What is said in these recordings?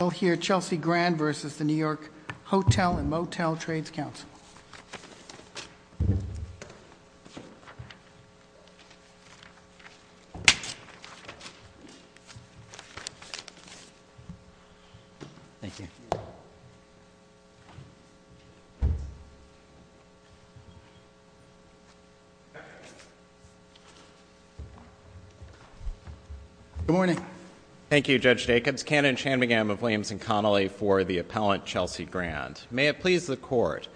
Hotel & Motel Trades Council. Good morning. Thank you, Judge Dacobs. Ken and Shanmugam of Williams & Connolly for the appellant, Chelsea Grand. May it please the Court.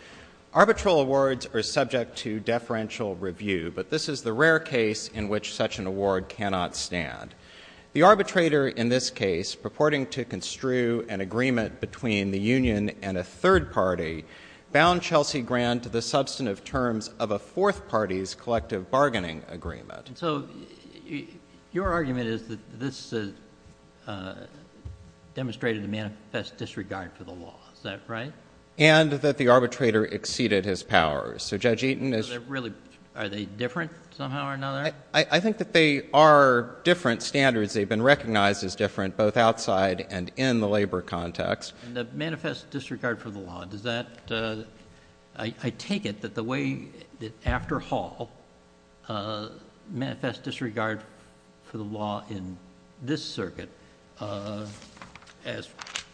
Arbitral awards are subject to deferential review, but this is the rare case in which such an award cannot stand. The arbitrator in this case, purporting to construe an agreement between the union and a third party, bound Chelsea Grand to the substantive terms of a fourth party's collective bargaining agreement. And so your argument is that this demonstrated a manifest disregard for the law, is that right? And that the arbitrator exceeded his powers. So Judge Eaton is— So they're really—are they different somehow or another? I think that they are different standards. They've been recognized as different both outside and in the labor context. And the manifest disregard for the law, does that—I take it that the way that after Hall manifest disregard for the law in this circuit, as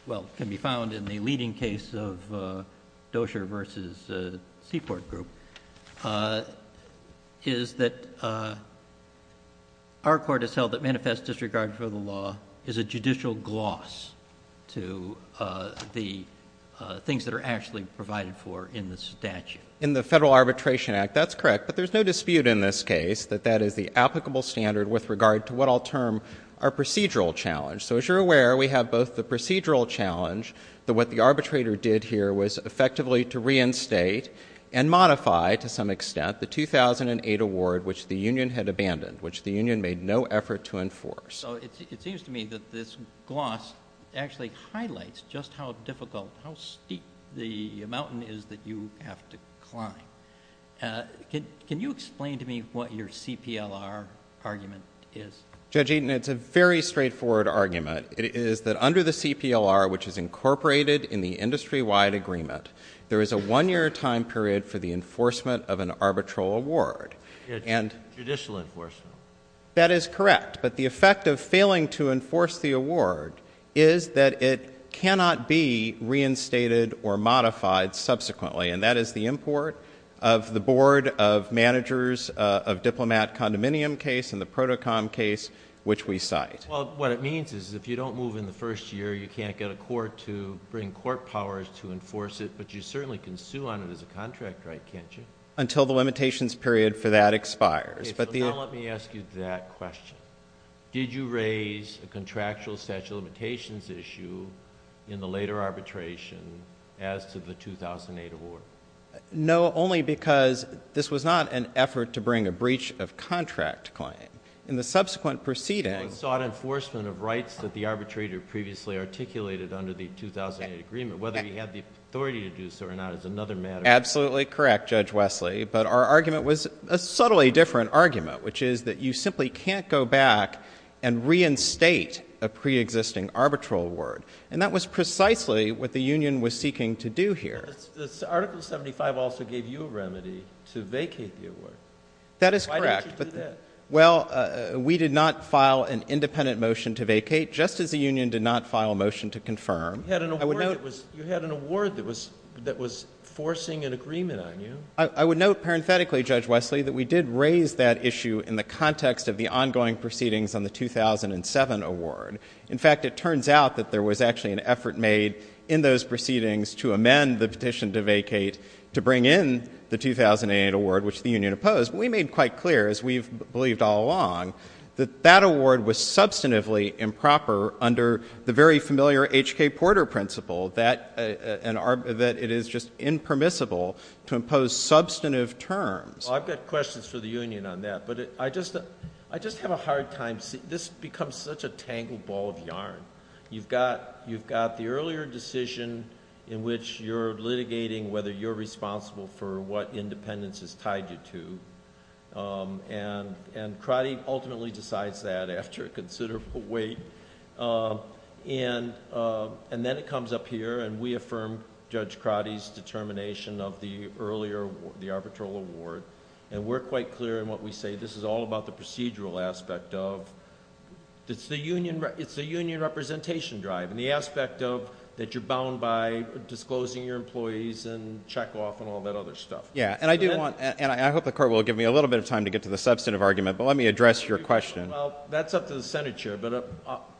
well can be found in the leading case of Dozier versus Seaport Group, is that our court has held that manifest disregard for the law is a judicial gloss to the things that are actually provided for in the statute. In the Federal Arbitration Act, that's correct. But there's no dispute in this case that that is the applicable standard with regard to what I'll term our procedural challenge. So as you're aware, we have both the procedural challenge, that what the arbitrator did here was effectively to reinstate and modify, to some extent, the 2008 award which the union had abandoned, which the union made no effort to enforce. So it seems to me that this gloss actually highlights just how difficult, how steep the Can you explain to me what your CPLR argument is? Judge Eaton, it's a very straightforward argument. It is that under the CPLR, which is incorporated in the industry-wide agreement, there is a one-year time period for the enforcement of an arbitral award. And — Judicial enforcement. That is correct. But the effect of failing to enforce the award is that it cannot be reinstated or modified subsequently. And that is the import of the Board of Managers of Diplomat Condominium case and the PROTOCOM case, which we cite. Well, what it means is if you don't move in the first year, you can't get a court to bring court powers to enforce it, but you certainly can sue on it as a contract, right, can't you? Until the limitations period for that expires. But the — Okay, so now let me ask you that question. Did you raise a contractual statute of limitations issue in the later arbitration as to the 2008 award? No, only because this was not an effort to bring a breach of contract claim. In the subsequent proceeding — Well, it sought enforcement of rights that the arbitrator previously articulated under the 2008 agreement. Whether he had the authority to do so or not is another matter. Absolutely correct, Judge Wesley. But our argument was a subtly different argument, which is that you simply can't go back and reinstate a preexisting arbitral award. And that was precisely what the union was seeking to do here. But Article 75 also gave you a remedy to vacate the award. That is correct. Why didn't you do that? Well, we did not file an independent motion to vacate, just as the union did not file a motion to confirm. You had an award that was forcing an agreement on you. I would note, parenthetically, Judge Wesley, that we did raise that issue in the context of the ongoing proceedings on the 2007 award. In fact, it turns out that there was actually an effort made in those proceedings to amend the petition to vacate, to bring in the 2008 award, which the union opposed. We made quite clear, as we've believed all along, that that award was substantively improper under the very familiar H.K. Porter principle, that it is just impermissible to impose substantive terms. Well, I've got questions for the union on that. But I just have a hard time — this becomes such a tangled ball of yarn. You've got the earlier decision in which you're litigating whether you're responsible for what independence has tied you to, and Crotty ultimately decides that after a considerable wait. Then it comes up here, and we affirm Judge Crotty's determination of the earlier arbitral award, and we're quite clear in what we say. It's a union representation drive in the aspect of that you're bound by disclosing your employees and check-off and all that other stuff. Yeah, and I do want — and I hope the Court will give me a little bit of time to get to the substantive argument, but let me address your question. Well, that's up to the Senate chair, but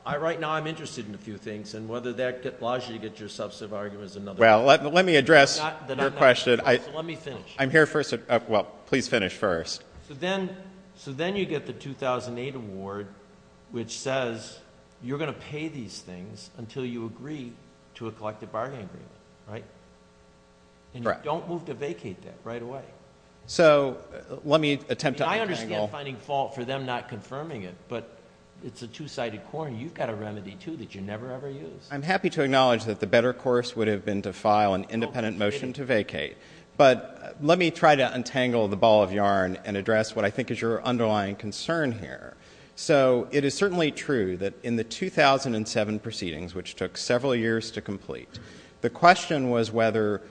right now I'm interested in a few things, and whether that allows you to get your substantive argument is another question. Well, let me address your question. So let me finish. I'm here first — well, please finish first. So then you get the 2008 award, which says you're going to pay these things until you agree to a collective bargaining agreement, right? Correct. And you don't move to vacate that right away. So let me attempt to untangle — I understand finding fault for them not confirming it, but it's a two-sided coin. You've got a remedy, too, that you never, ever use. I'm happy to acknowledge that the better course would have been to file an independent motion to vacate. But let me try to untangle the ball of yarn and address what I think is your underlying concern here. So it is certainly true that in the 2007 proceedings, which took several years to complete, the question was whether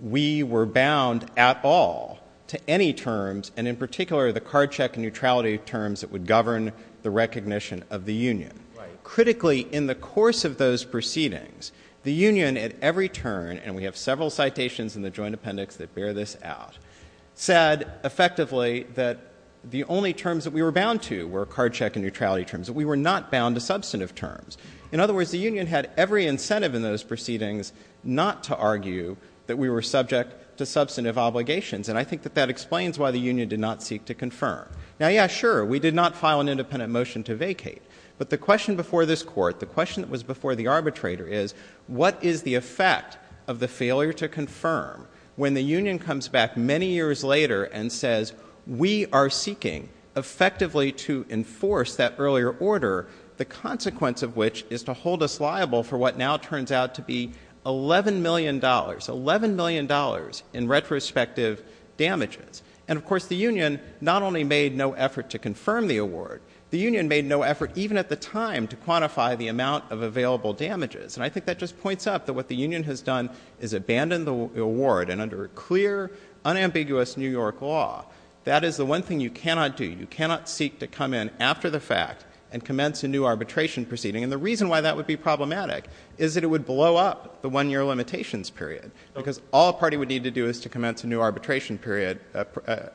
we were bound at all to any terms, and in particular the card check neutrality terms that would govern the recognition of the union. Critically, in the course of those proceedings, the union at every turn — and we have several citations in the joint appendix that bear this out — said effectively that the only terms that we were bound to were card check and neutrality terms, that we were not bound to substantive terms. In other words, the union had every incentive in those proceedings not to argue that we were subject to substantive obligations, and I think that that explains why the union did not seek to confirm. Now, yeah, sure, we did not file an independent motion to vacate, but the question before this Court, the question that was before the arbitrator is, what is the effect of the failure to confirm when the union comes back many years later and says, we are seeking effectively to enforce that earlier order, the consequence of which is to hold us liable for what now turns out to be $11 million, $11 million in retrospective damages? And of course the union not only made no effort to confirm the award, the union made no effort even at the time to quantify the amount of available damages, and I think that just points up that what the union has done is abandoned the award, and under clear, unambiguous New York law, that is the one thing you cannot do. You cannot seek to come in after the fact and commence a new arbitration proceeding, and the reason why that would be problematic is that it would blow up the one-year limitations period, because all a party would need to do is to commence a new arbitration period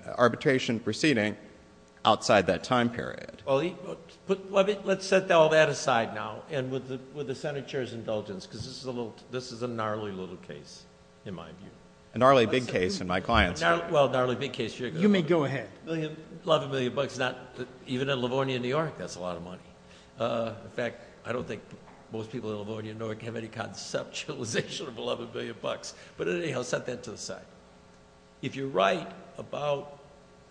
— arbitration proceeding outside that time period. JUSTICE SCALIA. Well, let's set all that aside now, and with the Senate chair's indulgence, because this is a gnarly little case, in my view. JUSTICE BREYER. A gnarly big case in my client's view. JUSTICE SCALIA. Well, a gnarly big case in your client's view. JUSTICE BREYER. You may go ahead. JUSTICE SCALIA. $11 million is not — even in Livornia, New York, that's a lot of money. In fact, I don't think most people in Livornia, New York, have any conceptualization of $11 billion, but anyhow, set that to the side. If you're right about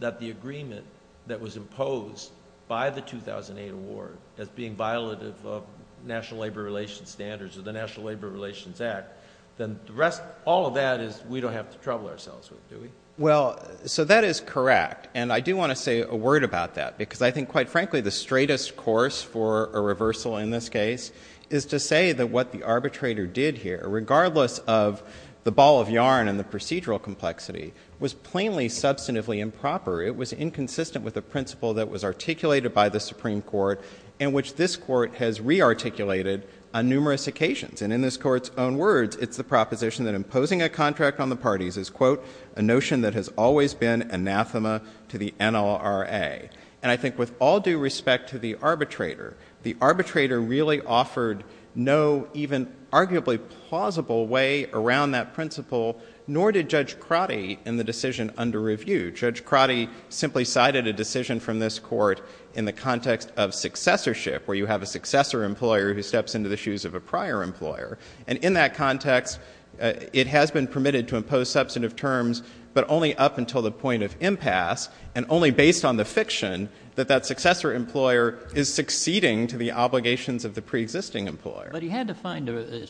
that the agreement that was imposed by the 2008 award as being a violation of national labor relations standards or the National Labor Relations Act, then the rest — all of that is — we don't have to trouble ourselves with, do we? JUSTICE BREYER. Well, so that is correct. And I do want to say a word about that, because I think, quite frankly, the straightest course for a reversal in this case is to say that what the arbitrator did here, regardless of the ball of yarn and the procedural complexity, was plainly substantively improper. It was inconsistent with a principle that was articulated by the Supreme Court in which this Court has re-articulated on numerous occasions. And in this Court's own words, it's the proposition that imposing a contract on the parties is, quote, a notion that has always been anathema to the NLRA. And I think with all due respect to the arbitrator, the arbitrator really offered no even arguably plausible way around that principle, nor did Judge Crotty in the decision under review. Judge Crotty simply cited a decision from this Court in the context of successorship, where you have a successor employer who steps into the shoes of a prior employer. And in that context, it has been permitted to impose substantive terms, but only up until the point of impasse, and only based on the fiction that that successor employer is succeeding to the obligations of the preexisting employer. But he had to find an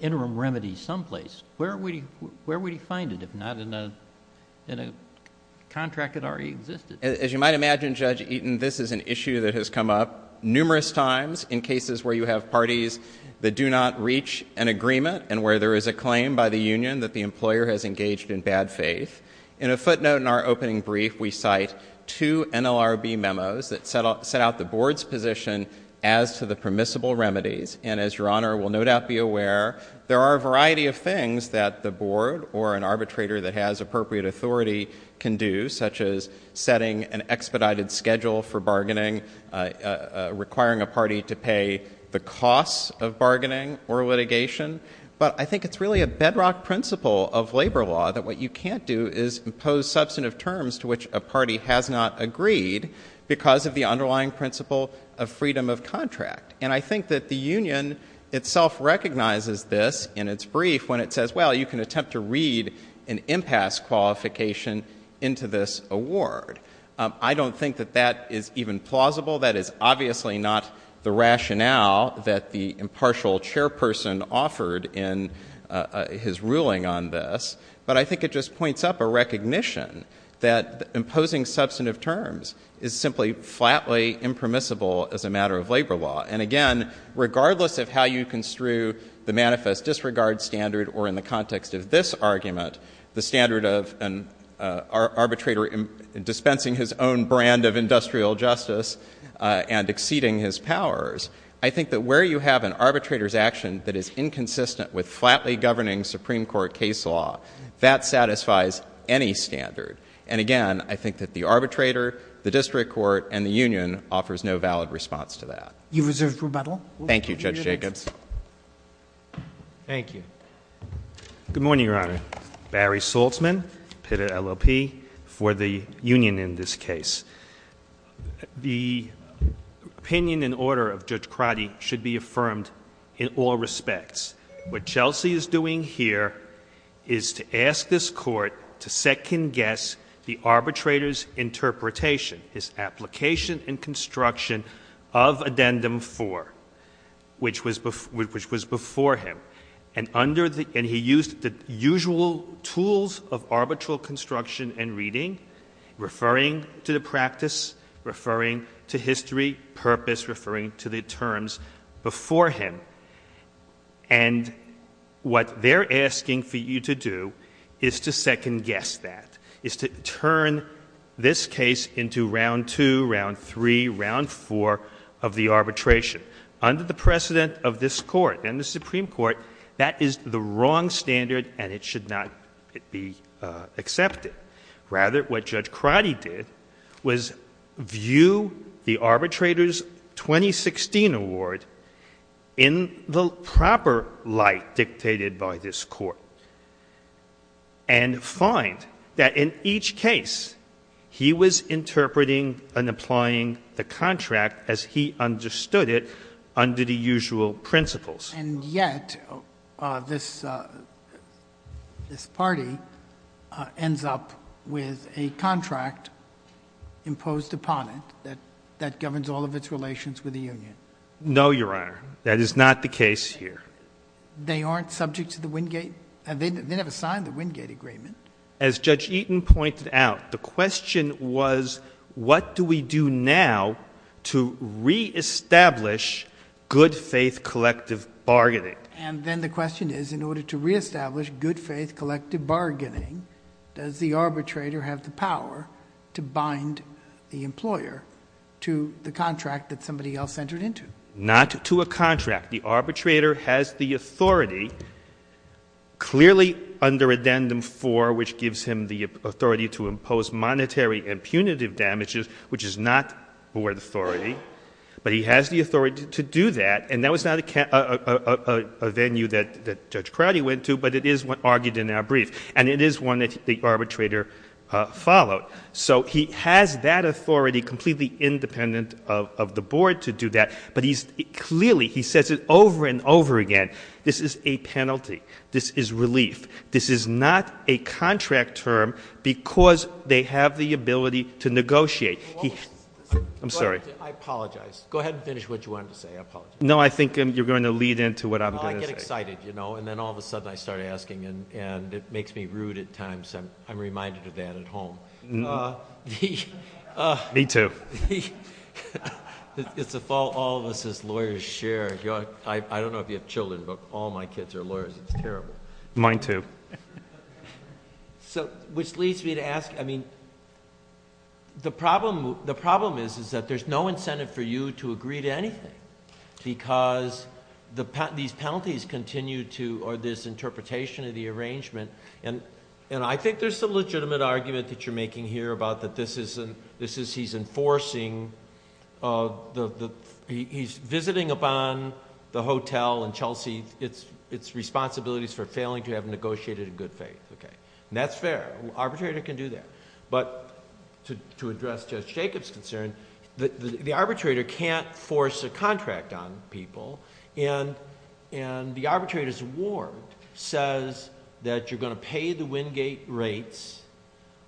interim remedy someplace. Where would he find it if not in a contract that already existed? As you might imagine, Judge Eaton, this is an issue that has come up numerous times in cases where you have parties that do not reach an agreement, and where there is a claim by the union that the employer has engaged in bad faith. In a footnote in our opening brief, we cite two NLRB memos that set out the Board's position as to the permissible remedies, and as Your Honor will no doubt be aware, there are a number of things that the Board or an arbitrator that has appropriate authority can do, such as setting an expedited schedule for bargaining, requiring a party to pay the costs of bargaining or litigation. But I think it's really a bedrock principle of labor law that what you can't do is impose substantive terms to which a party has not agreed because of the underlying principle of freedom of contract. And I think that the union itself recognizes this in its brief when it says, well, you can attempt to read an impasse qualification into this award. I don't think that that is even plausible. That is obviously not the rationale that the impartial chairperson offered in his ruling on this. But I think it just points up a recognition that imposing substantive terms is simply flatly impermissible as a matter of labor law. And again, regardless of how you construe the manifest disregard standard or in the context of this argument, the standard of an arbitrator dispensing his own brand of industrial justice and exceeding his powers, I think that where you have an arbitrator's action that is inconsistent with flatly governing Supreme Court case law, that satisfies any standard. And again, I think that the arbitrator, the district court, and the union offers no valid response to that. You've reserved rebuttal. Thank you, Judge Jacobs. Thank you. Good morning, Your Honor. Barry Saltzman, PITT at LLP, for the union in this case. The opinion in order of Judge Crotty should be affirmed in all respects. What Chelsea is doing here is to ask this Court to second-guess the arbitrator's interpretation, his application and construction of Addendum 4, which was before him. And under the — and he used the usual tools of arbitral construction and reading, referring to the practice, referring to history, purpose, referring to the terms before him. And what they're asking for you to do is to second-guess that, is to turn this case into Round 2, Round 3, Round 4 of the arbitration. Under the precedent of this Court and the Supreme Court, that is the wrong standard and it should not be accepted. Rather, what Judge Crotty did was view the arbitrator's 2016 award in the proper light dictated by this Court, and find that in each case he was interpreting and applying the contract as he understood it under the usual principles. And yet, this party ends up with a contract imposed upon it that governs all of its relations with the union. No, Your Honor. That is not the case here. They aren't subject to the Wingate — they never signed the Wingate Agreement. As Judge Eaton pointed out, the question was, what do we do now to re-establish good faith collective bargaining? And then the question is, in order to re-establish good faith collective bargaining, does the arbitrator have the power to bind the employer to the contract that somebody else entered into? Not to a contract. The arbitrator has the authority, clearly under Addendum 4, which gives him the authority to impose monetary and punitive damages, which is not board authority. But he has the authority to do that, and that was not a venue that Judge Crowdy went to, but it is argued in our brief. And it is one that the arbitrator followed. So he has that authority completely independent of the board to do that, but he's — clearly he says it over and over again. This is a penalty. This is relief. This is not a contract term because they have the ability to negotiate. I'm sorry. I apologize. Go ahead and finish what you wanted to say. I apologize. No, I think you're going to lead into what I'm going to say. Well, I get excited, you know, and then all of a sudden I start asking, and it makes me rude at times. I'm reminded of that at home. Me too. It's a fault all of us as lawyers share. I don't know if you have children, but all my kids are lawyers. It's terrible. Mine too. So, which leads me to ask — I mean, the problem is that there's no incentive for you to agree to anything because these penalties continue to — or this interpretation of the arrangement — and I think there's some legitimate argument that you're making here about that this is — he's enforcing — he's visiting upon the hotel in Chelsea — it's responsibilities for failing to have negotiated in good faith, okay? That's fair. An arbitrator can do that. But to address Judge Jacob's concern, the arbitrator can't force a contract on people, and the arbitrator's ward says that you're going to pay the Wingate rates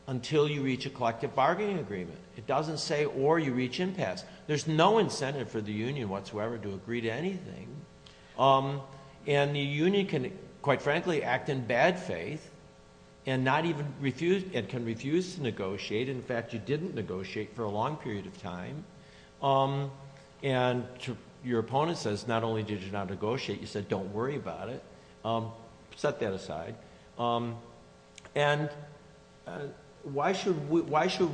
until you reach a collective bargaining agreement. It doesn't say or you reach impasse. There's no incentive for the union whatsoever to agree to anything. And the union can, quite frankly, act in bad faith and not even refuse — and can refuse to negotiate. In fact, you didn't negotiate for a long period of time. And your opponent says not only did you not negotiate, you said don't worry about it. Set that aside. And why should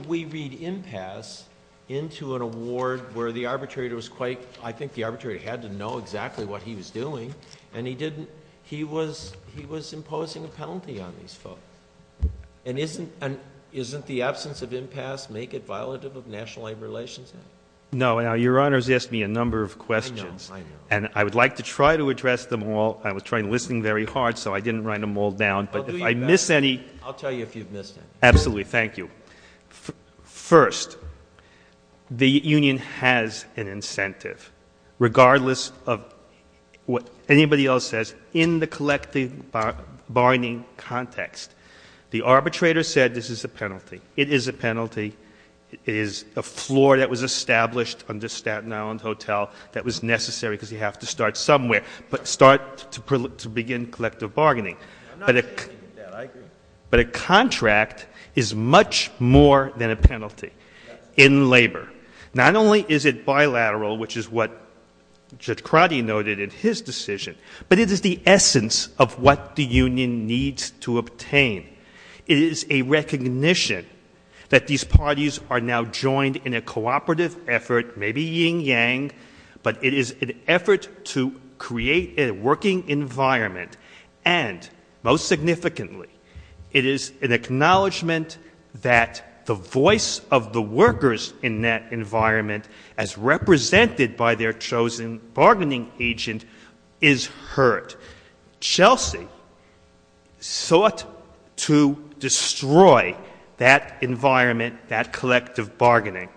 we read impasse into an award where the arbitrator was quite — I think the arbitrator had to know exactly what he was doing, and he didn't — he was imposing a penalty on these folks. And isn't the absence of impasse make it violative of National Labor Relations Act? No. Now, Your Honors asked me a number of questions. And I would like to try to address them all. I was trying — listening very hard, so I didn't write them all down. But if I miss any — I'll do even better. I'll tell you if you've missed any. Absolutely. Thank you. First, the union has an incentive, regardless of what anybody else says, in the collective bargaining context. The arbitrator said this is a penalty. It is a penalty. It is a floor that was established under Staten Island Hotel that was necessary because you have to start somewhere. But start to begin collective bargaining. I'm not in favor of that. I agree. But a contract is much more than a penalty in labor. Not only is it bilateral, which is what Judge Crotty noted in his decision, but it is the essence of what the union needs to obtain. It is a recognition that these parties are now joined in a cooperative effort — maybe yin-yang — but it is an effort to create a working environment. And most significantly, it is an acknowledgment that the voice of the workers in that environment, as represented by their chosen bargaining agent, is heard. Chelsea sought to destroy that environment, that collective bargaining,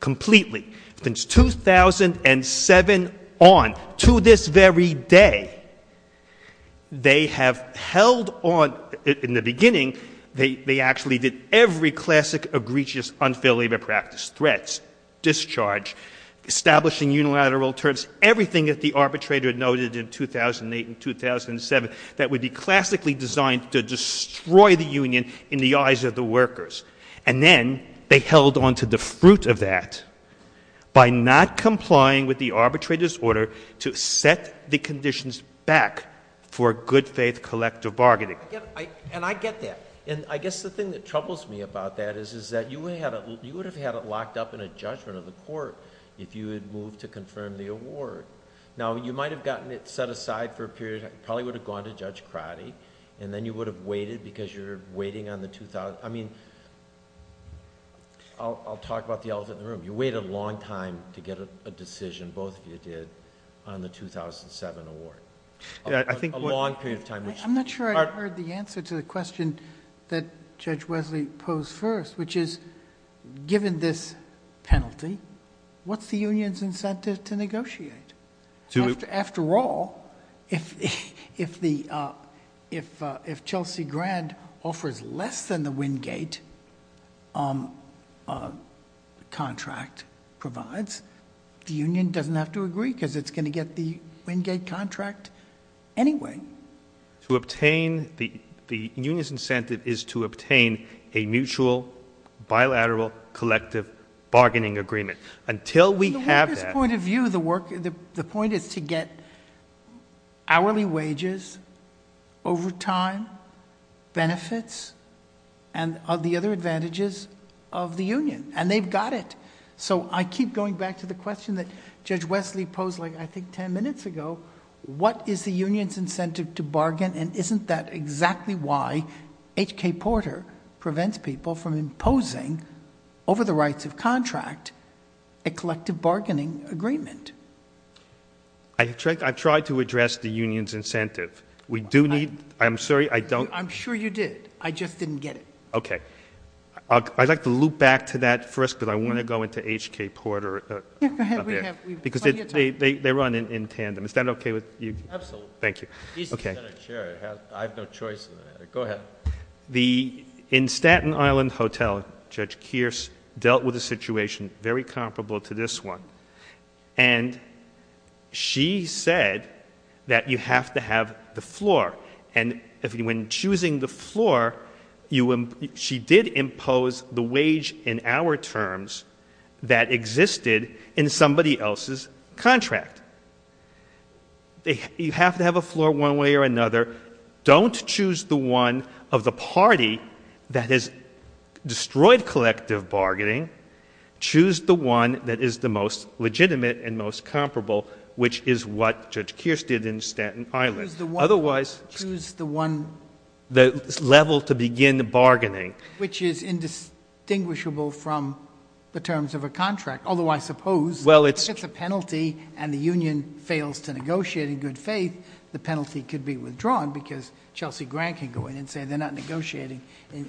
completely, since 2007 on, to this very day. They have held on — in the beginning, they actually did every classic, egregious, unfair labor practice — threats, discharge, establishing unilateral terms, everything that the arbitrator noted in 2008 and 2007 that would be classically designed to destroy the union in the eyes of the workers. And then, they held on to the fruit of that by not complying with the arbitrator's order to set the conditions back for good-faith collective bargaining. And I get that. And I guess the thing that troubles me about that is that you would have had it locked up in a judgment of the court if you had moved to confirm the award. Now you might have gotten it set aside for a period — probably would have gone to Judge I mean, I'll talk about the elephant in the room. You wait a long time to get a decision, both of you did, on the 2007 award, a long period of time. I'm not sure I heard the answer to the question that Judge Wesley posed first, which is, given this penalty, what's the union's incentive to negotiate? After all, if Chelsea Grand offers less than the Wingate contract provides, the union doesn't have to agree because it's going to get the Wingate contract anyway. To obtain — the union's incentive is to obtain a mutual, bilateral, collective bargaining Until we have that — From this point of view, the work — the point is to get hourly wages, overtime, benefits, and the other advantages of the union. And they've got it. So I keep going back to the question that Judge Wesley posed, I think, ten minutes ago. What is the union's incentive to bargain, and isn't that exactly why H.K. Porter prevents people from imposing, over the rights of contract, a collective bargaining agreement? I tried to address the union's incentive. We do need — I'm sorry, I don't — I'm sure you did. I just didn't get it. Okay. I'd like to loop back to that first, because I want to go into H.K. Porter up there. Because they run in tandem. Is that okay with you? Absolutely. Thank you. Okay. He's the Senate chair. I have no choice in that. Go ahead. Well, the — in Staten Island Hotel, Judge Kearse dealt with a situation very comparable to this one. And she said that you have to have the floor. And when choosing the floor, you — she did impose the wage in hour terms that existed in somebody else's contract. You have to have a floor one way or another. Don't choose the one of the party that has destroyed collective bargaining. Choose the one that is the most legitimate and most comparable, which is what Judge Kearse did in Staten Island. Choose the one — Otherwise — Choose the one — The level to begin the bargaining. Which is indistinguishable from the terms of a contract. Although I suppose — Well, it's — If the penalty and the union fails to negotiate in good faith, the penalty could be withdrawn because Chelsea Grant can go in and say they're not negotiating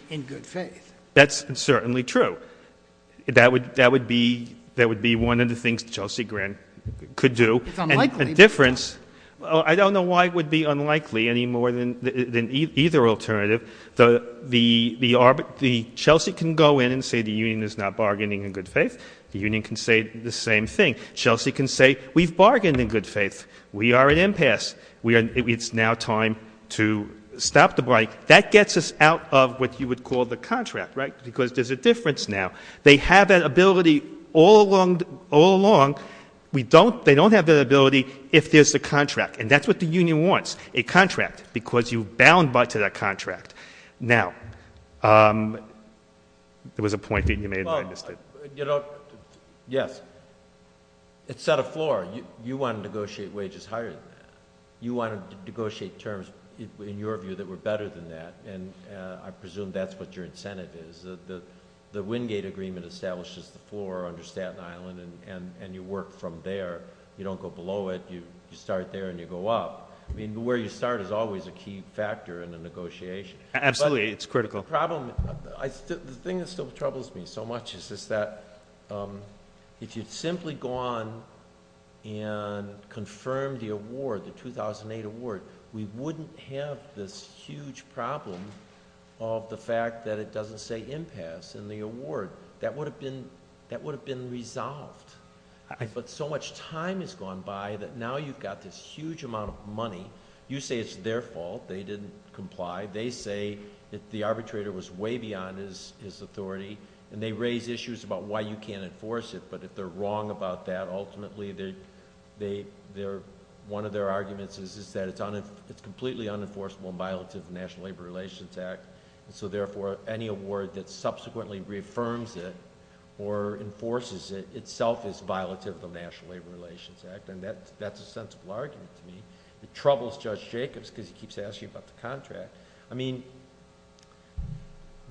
in good faith. That's certainly true. That would be one of the things Chelsea Grant could do. It's unlikely. And the difference — I don't know why it would be unlikely any more than either alternative. The — Chelsea can go in and say the union is not bargaining in good faith. The union can say the same thing. Chelsea can say we've bargained in good faith. We are at impasse. It's now time to stop the bike. That gets us out of what you would call the contract, right? Because there's a difference now. They have that ability all along. We don't — they don't have that ability if there's a contract. And that's what the union wants, a contract, because you bound by to that contract. Now — There was a point that you made and I missed it. You know, yes, it set a floor. You want to negotiate wages higher than that. You want to negotiate terms, in your view, that were better than that. And I presume that's what your incentive is, that the Wingate agreement establishes the floor under Staten Island and you work from there. You don't go below it. You start there and you go up. I mean, where you start is always a key factor in a negotiation. Absolutely. It's critical. The problem — the thing that still troubles me so much is that if you'd simply gone and confirmed the award, the 2008 award, we wouldn't have this huge problem of the fact that it doesn't say impasse in the award. That would have been — that would have been resolved. But so much time has gone by that now you've got this huge amount of money. You say it's their fault. They didn't comply. They say that the arbitrator was way beyond his authority and they raise issues about why you can't enforce it. But if they're wrong about that, ultimately, one of their arguments is that it's completely unenforceable and violative of the National Labor Relations Act. So therefore, any award that subsequently reaffirms it or enforces it, itself is violative of the National Labor Relations Act, and that's a sensible argument to me. It troubles Judge Jacobs because he keeps asking about the contract. I mean,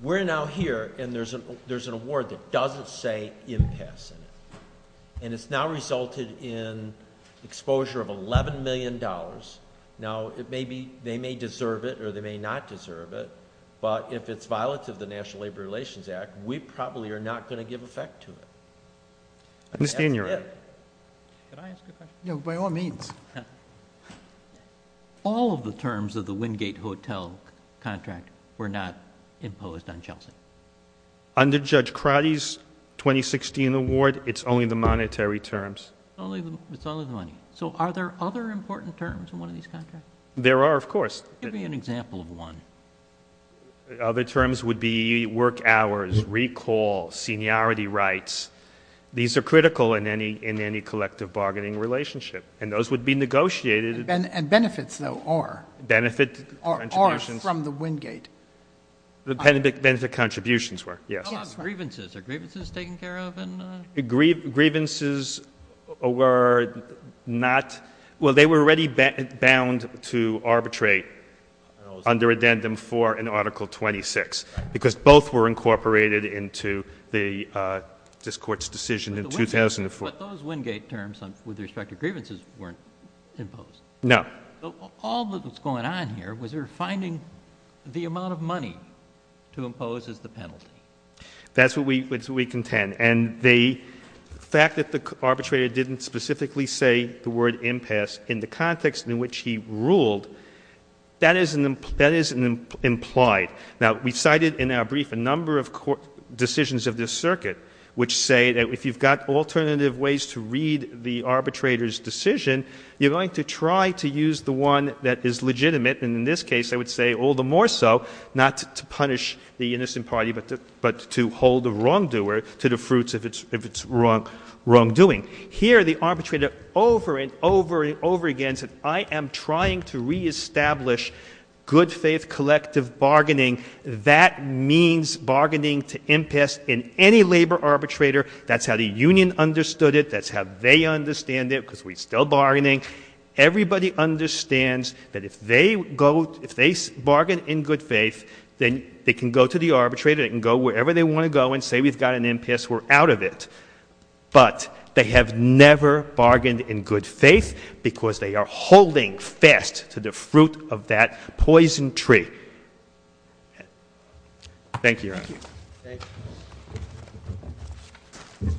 we're now here and there's an award that doesn't say impasse in it, and it's now resulted in exposure of $11 million. Now, it may be — they may deserve it or they may not deserve it, but if it's violative of the National Labor Relations Act, we probably are not going to give effect to it. That's it. Can I ask a question? By all means. All of the terms of the Wingate Hotel contract were not imposed on Chelsea? Under Judge Crotty's 2016 award, it's only the monetary terms. It's only the money. So are there other important terms in one of these contracts? There are, of course. Give me an example of one. Other terms would be work hours, recall, seniority rights. These are critical in any collective bargaining relationship, and those would be negotiated — And benefits, though, are — Benefit contributions —— are from the Wingate. The benefit contributions were, yes. Yes. What about grievances? Are grievances taken care of in — Grievances were not — well, they were already bound to arbitrate under Addendum 4 in Article 26, because both were incorporated into this Court's decision in 2004. But those Wingate terms with respect to grievances weren't imposed? No. All that was going on here was we were finding the amount of money to impose as the penalty. That's what we contend. And the fact that the arbitrator didn't specifically say the word impasse in the context in which he ruled, that is implied. Now we cited in our brief a number of decisions of this circuit which say that if you've got alternative ways to read the arbitrator's decision, you're going to try to use the one that is legitimate, and in this case, I would say all the more so not to punish the innocent party but to hold the wrongdoer to the fruits of its wrongdoing. Here the arbitrator over and over and over again said, I am trying to reestablish good-faith collective bargaining. That means bargaining to impasse in any labor arbitrator. That's how the union understood it. That's how they understand it, because we're still bargaining. Everybody understands that if they go — if they bargain in good faith, then they can go to the arbitrator, they can go wherever they want to go and say, we've got an impasse, we're out of it. But they have never bargained in good faith because they are holding fast to the fruit of that poison tree. Thank you, Your Honor. Thank you.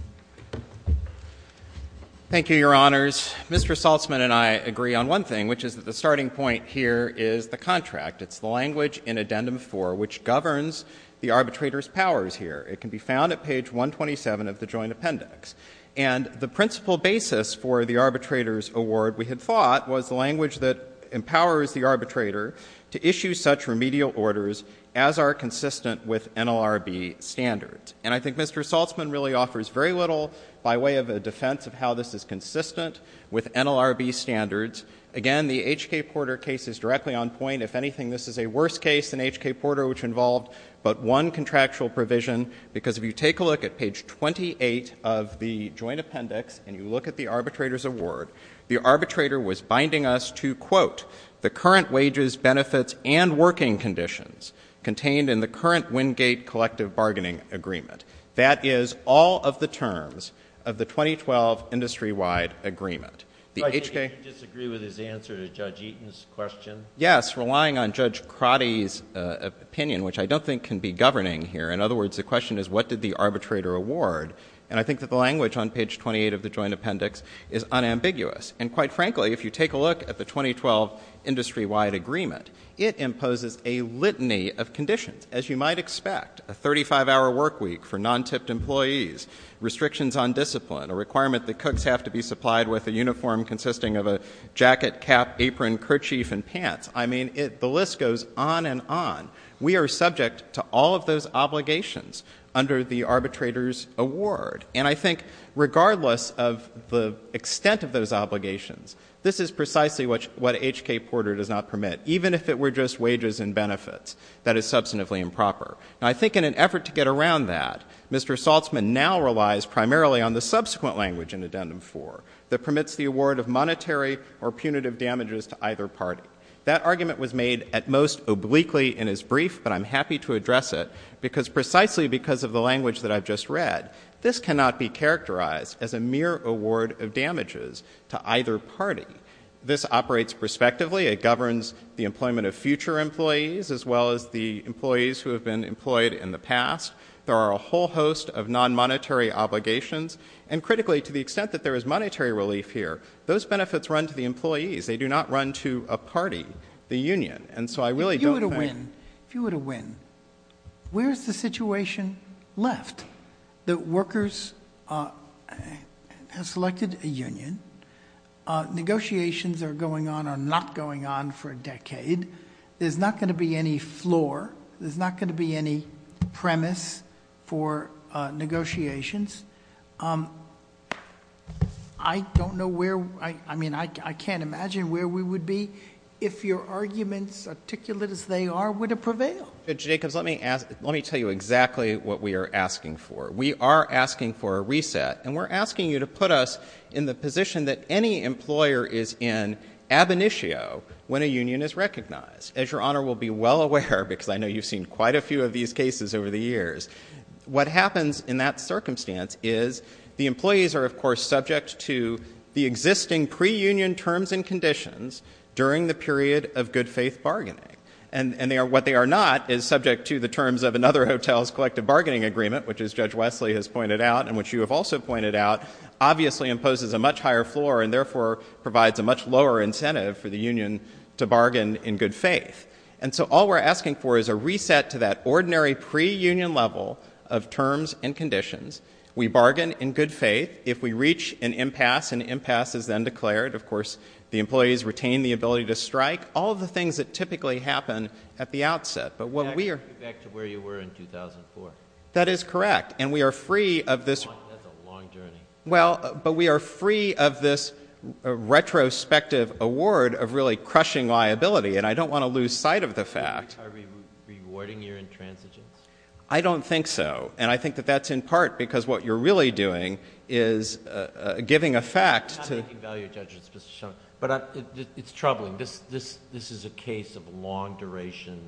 Thank you, Your Honors. Mr. Saltzman and I agree on one thing, which is that the starting point here is the contract. It's the language in Addendum 4 which governs the arbitrator's powers here. It can be found at page 127 of the Joint Appendix. And the principal basis for the arbitrator's award, we had thought, was the language that empowers the arbitrator to issue such remedial orders as are consistent with NLRB standards. And I think Mr. Saltzman really offers very little by way of a defense of how this is consistent with NLRB standards. Again, the HK Porter case is directly on point. If anything, this is a worse case than HK Porter which involved but one contractual provision because if you take a look at page 28 of the Joint Appendix and you look at the arbitrator's award, the arbitrator was binding us to, quote, the current wages, benefits, and working conditions contained in the current Wingate collective bargaining agreement. That is all of the terms of the 2012 industry-wide agreement. The HK — Do I disagree with his answer to Judge Eaton's question? Yes, relying on Judge Crotty's opinion, which I don't think can be governing here. In other words, the question is what did the arbitrator award? And I think that the language on page 28 of the Joint Appendix is unambiguous. And quite frankly, if you take a look at the 2012 industry-wide agreement, it imposes a litany of conditions. As you might expect, a 35-hour work week for non-tipped employees, restrictions on discipline, a requirement that cooks have to be supplied with a uniform consisting of a jacket, cap, apron, kerchief, and pants. I mean, the list goes on and on. We are subject to all of those obligations under the arbitrator's award. And I think regardless of the extent of those obligations, this is precisely what HK Porter does not permit, even if it were just wages and benefits. That is substantively improper. And I think in an effort to get around that, Mr. Saltzman now relies primarily on the subsequent language in Addendum 4 that permits the award of monetary or punitive damages to either party. That argument was made at most obliquely in his brief, but I'm happy to address it because precisely because of the language that I've just read, this cannot be characterized as a mere award of damages to either party. This operates prospectively. It governs the employment of future employees as well as the employees who have been employed in the past. There are a whole host of non-monetary obligations. And critically, to the extent that there is monetary relief here, those benefits run to the employees. They do not run to a party, the union. And so I really don't think... If you were to win, if you were to win, where is the situation left that workers have selected a union, negotiations are going on or not going on for a decade, there's not going to be any floor. There's not going to be any premise for negotiations. I don't know where... I mean, I can't imagine where we would be if your arguments, articulate as they are, would have prevailed. Jacobs, let me tell you exactly what we are asking for. We are asking for a reset. And we're asking you to put us in the position that any employer is in ab initio when a union is recognized. As your Honor will be well aware, because I know you've seen quite a few of these cases over the years, what happens in that circumstance is the employees are, of course, subject to the existing pre-union terms and conditions during the period of good-faith bargaining. And what they are not is subject to the terms of another hotel's collective bargaining agreement, which as Judge Wesley has pointed out and which you have also pointed out, obviously imposes a much higher floor and therefore provides a much lower incentive for the union to bargain in good faith. And so all we're asking for is a reset to that ordinary pre-union level of terms and conditions. We bargain in good faith. If we reach an impasse, an impasse is then declared. Of course, the employees retain the ability to strike. All of the things that typically happen at the outset. But what we are... Back to where you were in 2004. That is correct. And we are free of this... That's a long journey. Well, but we are free of this retrospective award of really crushing liability. And I don't want to lose sight of the fact... Are we rewarding your intransigence? I don't think so. And I think that that's in part because what you're really doing is giving a fact to... I'm not making value judgments, Mr. Shumlin, but it's troubling. This is a case of long duration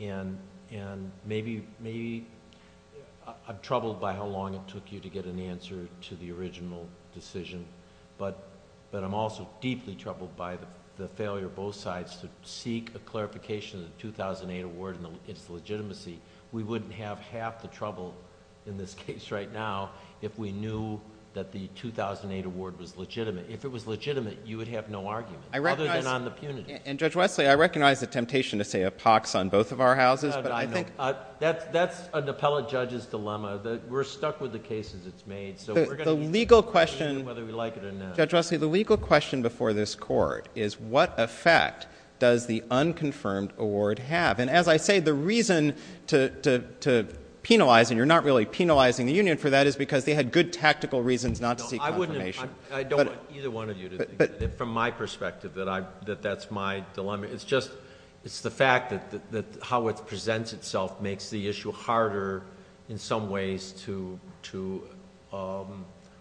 and maybe... I'm troubled by how long it took you to get an answer to the original decision, but I'm also deeply troubled by the failure of both sides to seek a clarification of the 2008 award and its legitimacy. We wouldn't have half the trouble in this case right now if we knew that the 2008 award was legitimate. If it was legitimate, you would have no argument, other than on the punitive. And Judge Wesley, I recognize the temptation to say a pox on both of our houses, but I think... No, no. That's an appellate judge's dilemma. We're stuck with the cases it's made, so we're going to... The legal question...... whether we like it or not. Judge Wesley, the legal question before this Court is what effect does the unconfirmed award have? And as I say, the reason to penalize, and you're not really penalizing the union for that, is because they had good tactical reasons not to seek confirmation. No, I wouldn't... I don't want either one of you to... But... From my perspective, that that's my dilemma. It's just, it's the fact that how it presents itself makes the issue harder, in some ways, to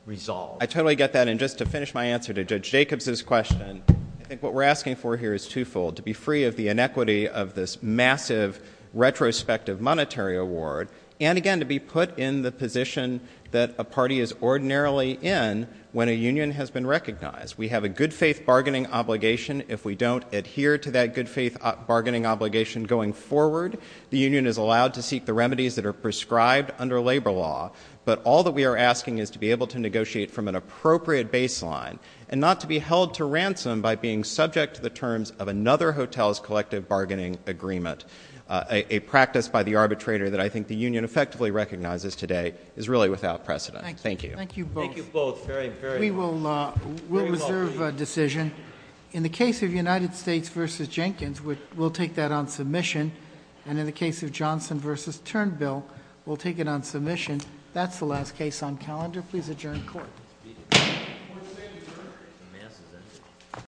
resolve. I totally get that, and just to finish my answer to Judge Jacobs' question, I think what we're asking for here is twofold, to be free of the inequity of this massive retrospective monetary award, and again, to be put in the position that a party is ordinarily in when a union has been recognized. We have a good-faith bargaining obligation. If we don't adhere to that good-faith bargaining obligation going forward, the union is allowed to seek the remedies that are prescribed under labor law, but all that we are asking is to be able to negotiate from an appropriate baseline, and not to be held to ransom by being subject to the terms of another hotel's collective bargaining agreement, a practice by the arbitrator that I think the union effectively recognizes today is really without precedent. Thank you. Thank you both. Thank you both. We will reserve a decision. In the case of United States v. Jenkins, we'll take that on submission, and in the case of Johnson v. Turnbill, we'll take it on submission. That's the last case on calendar. Please adjourn court.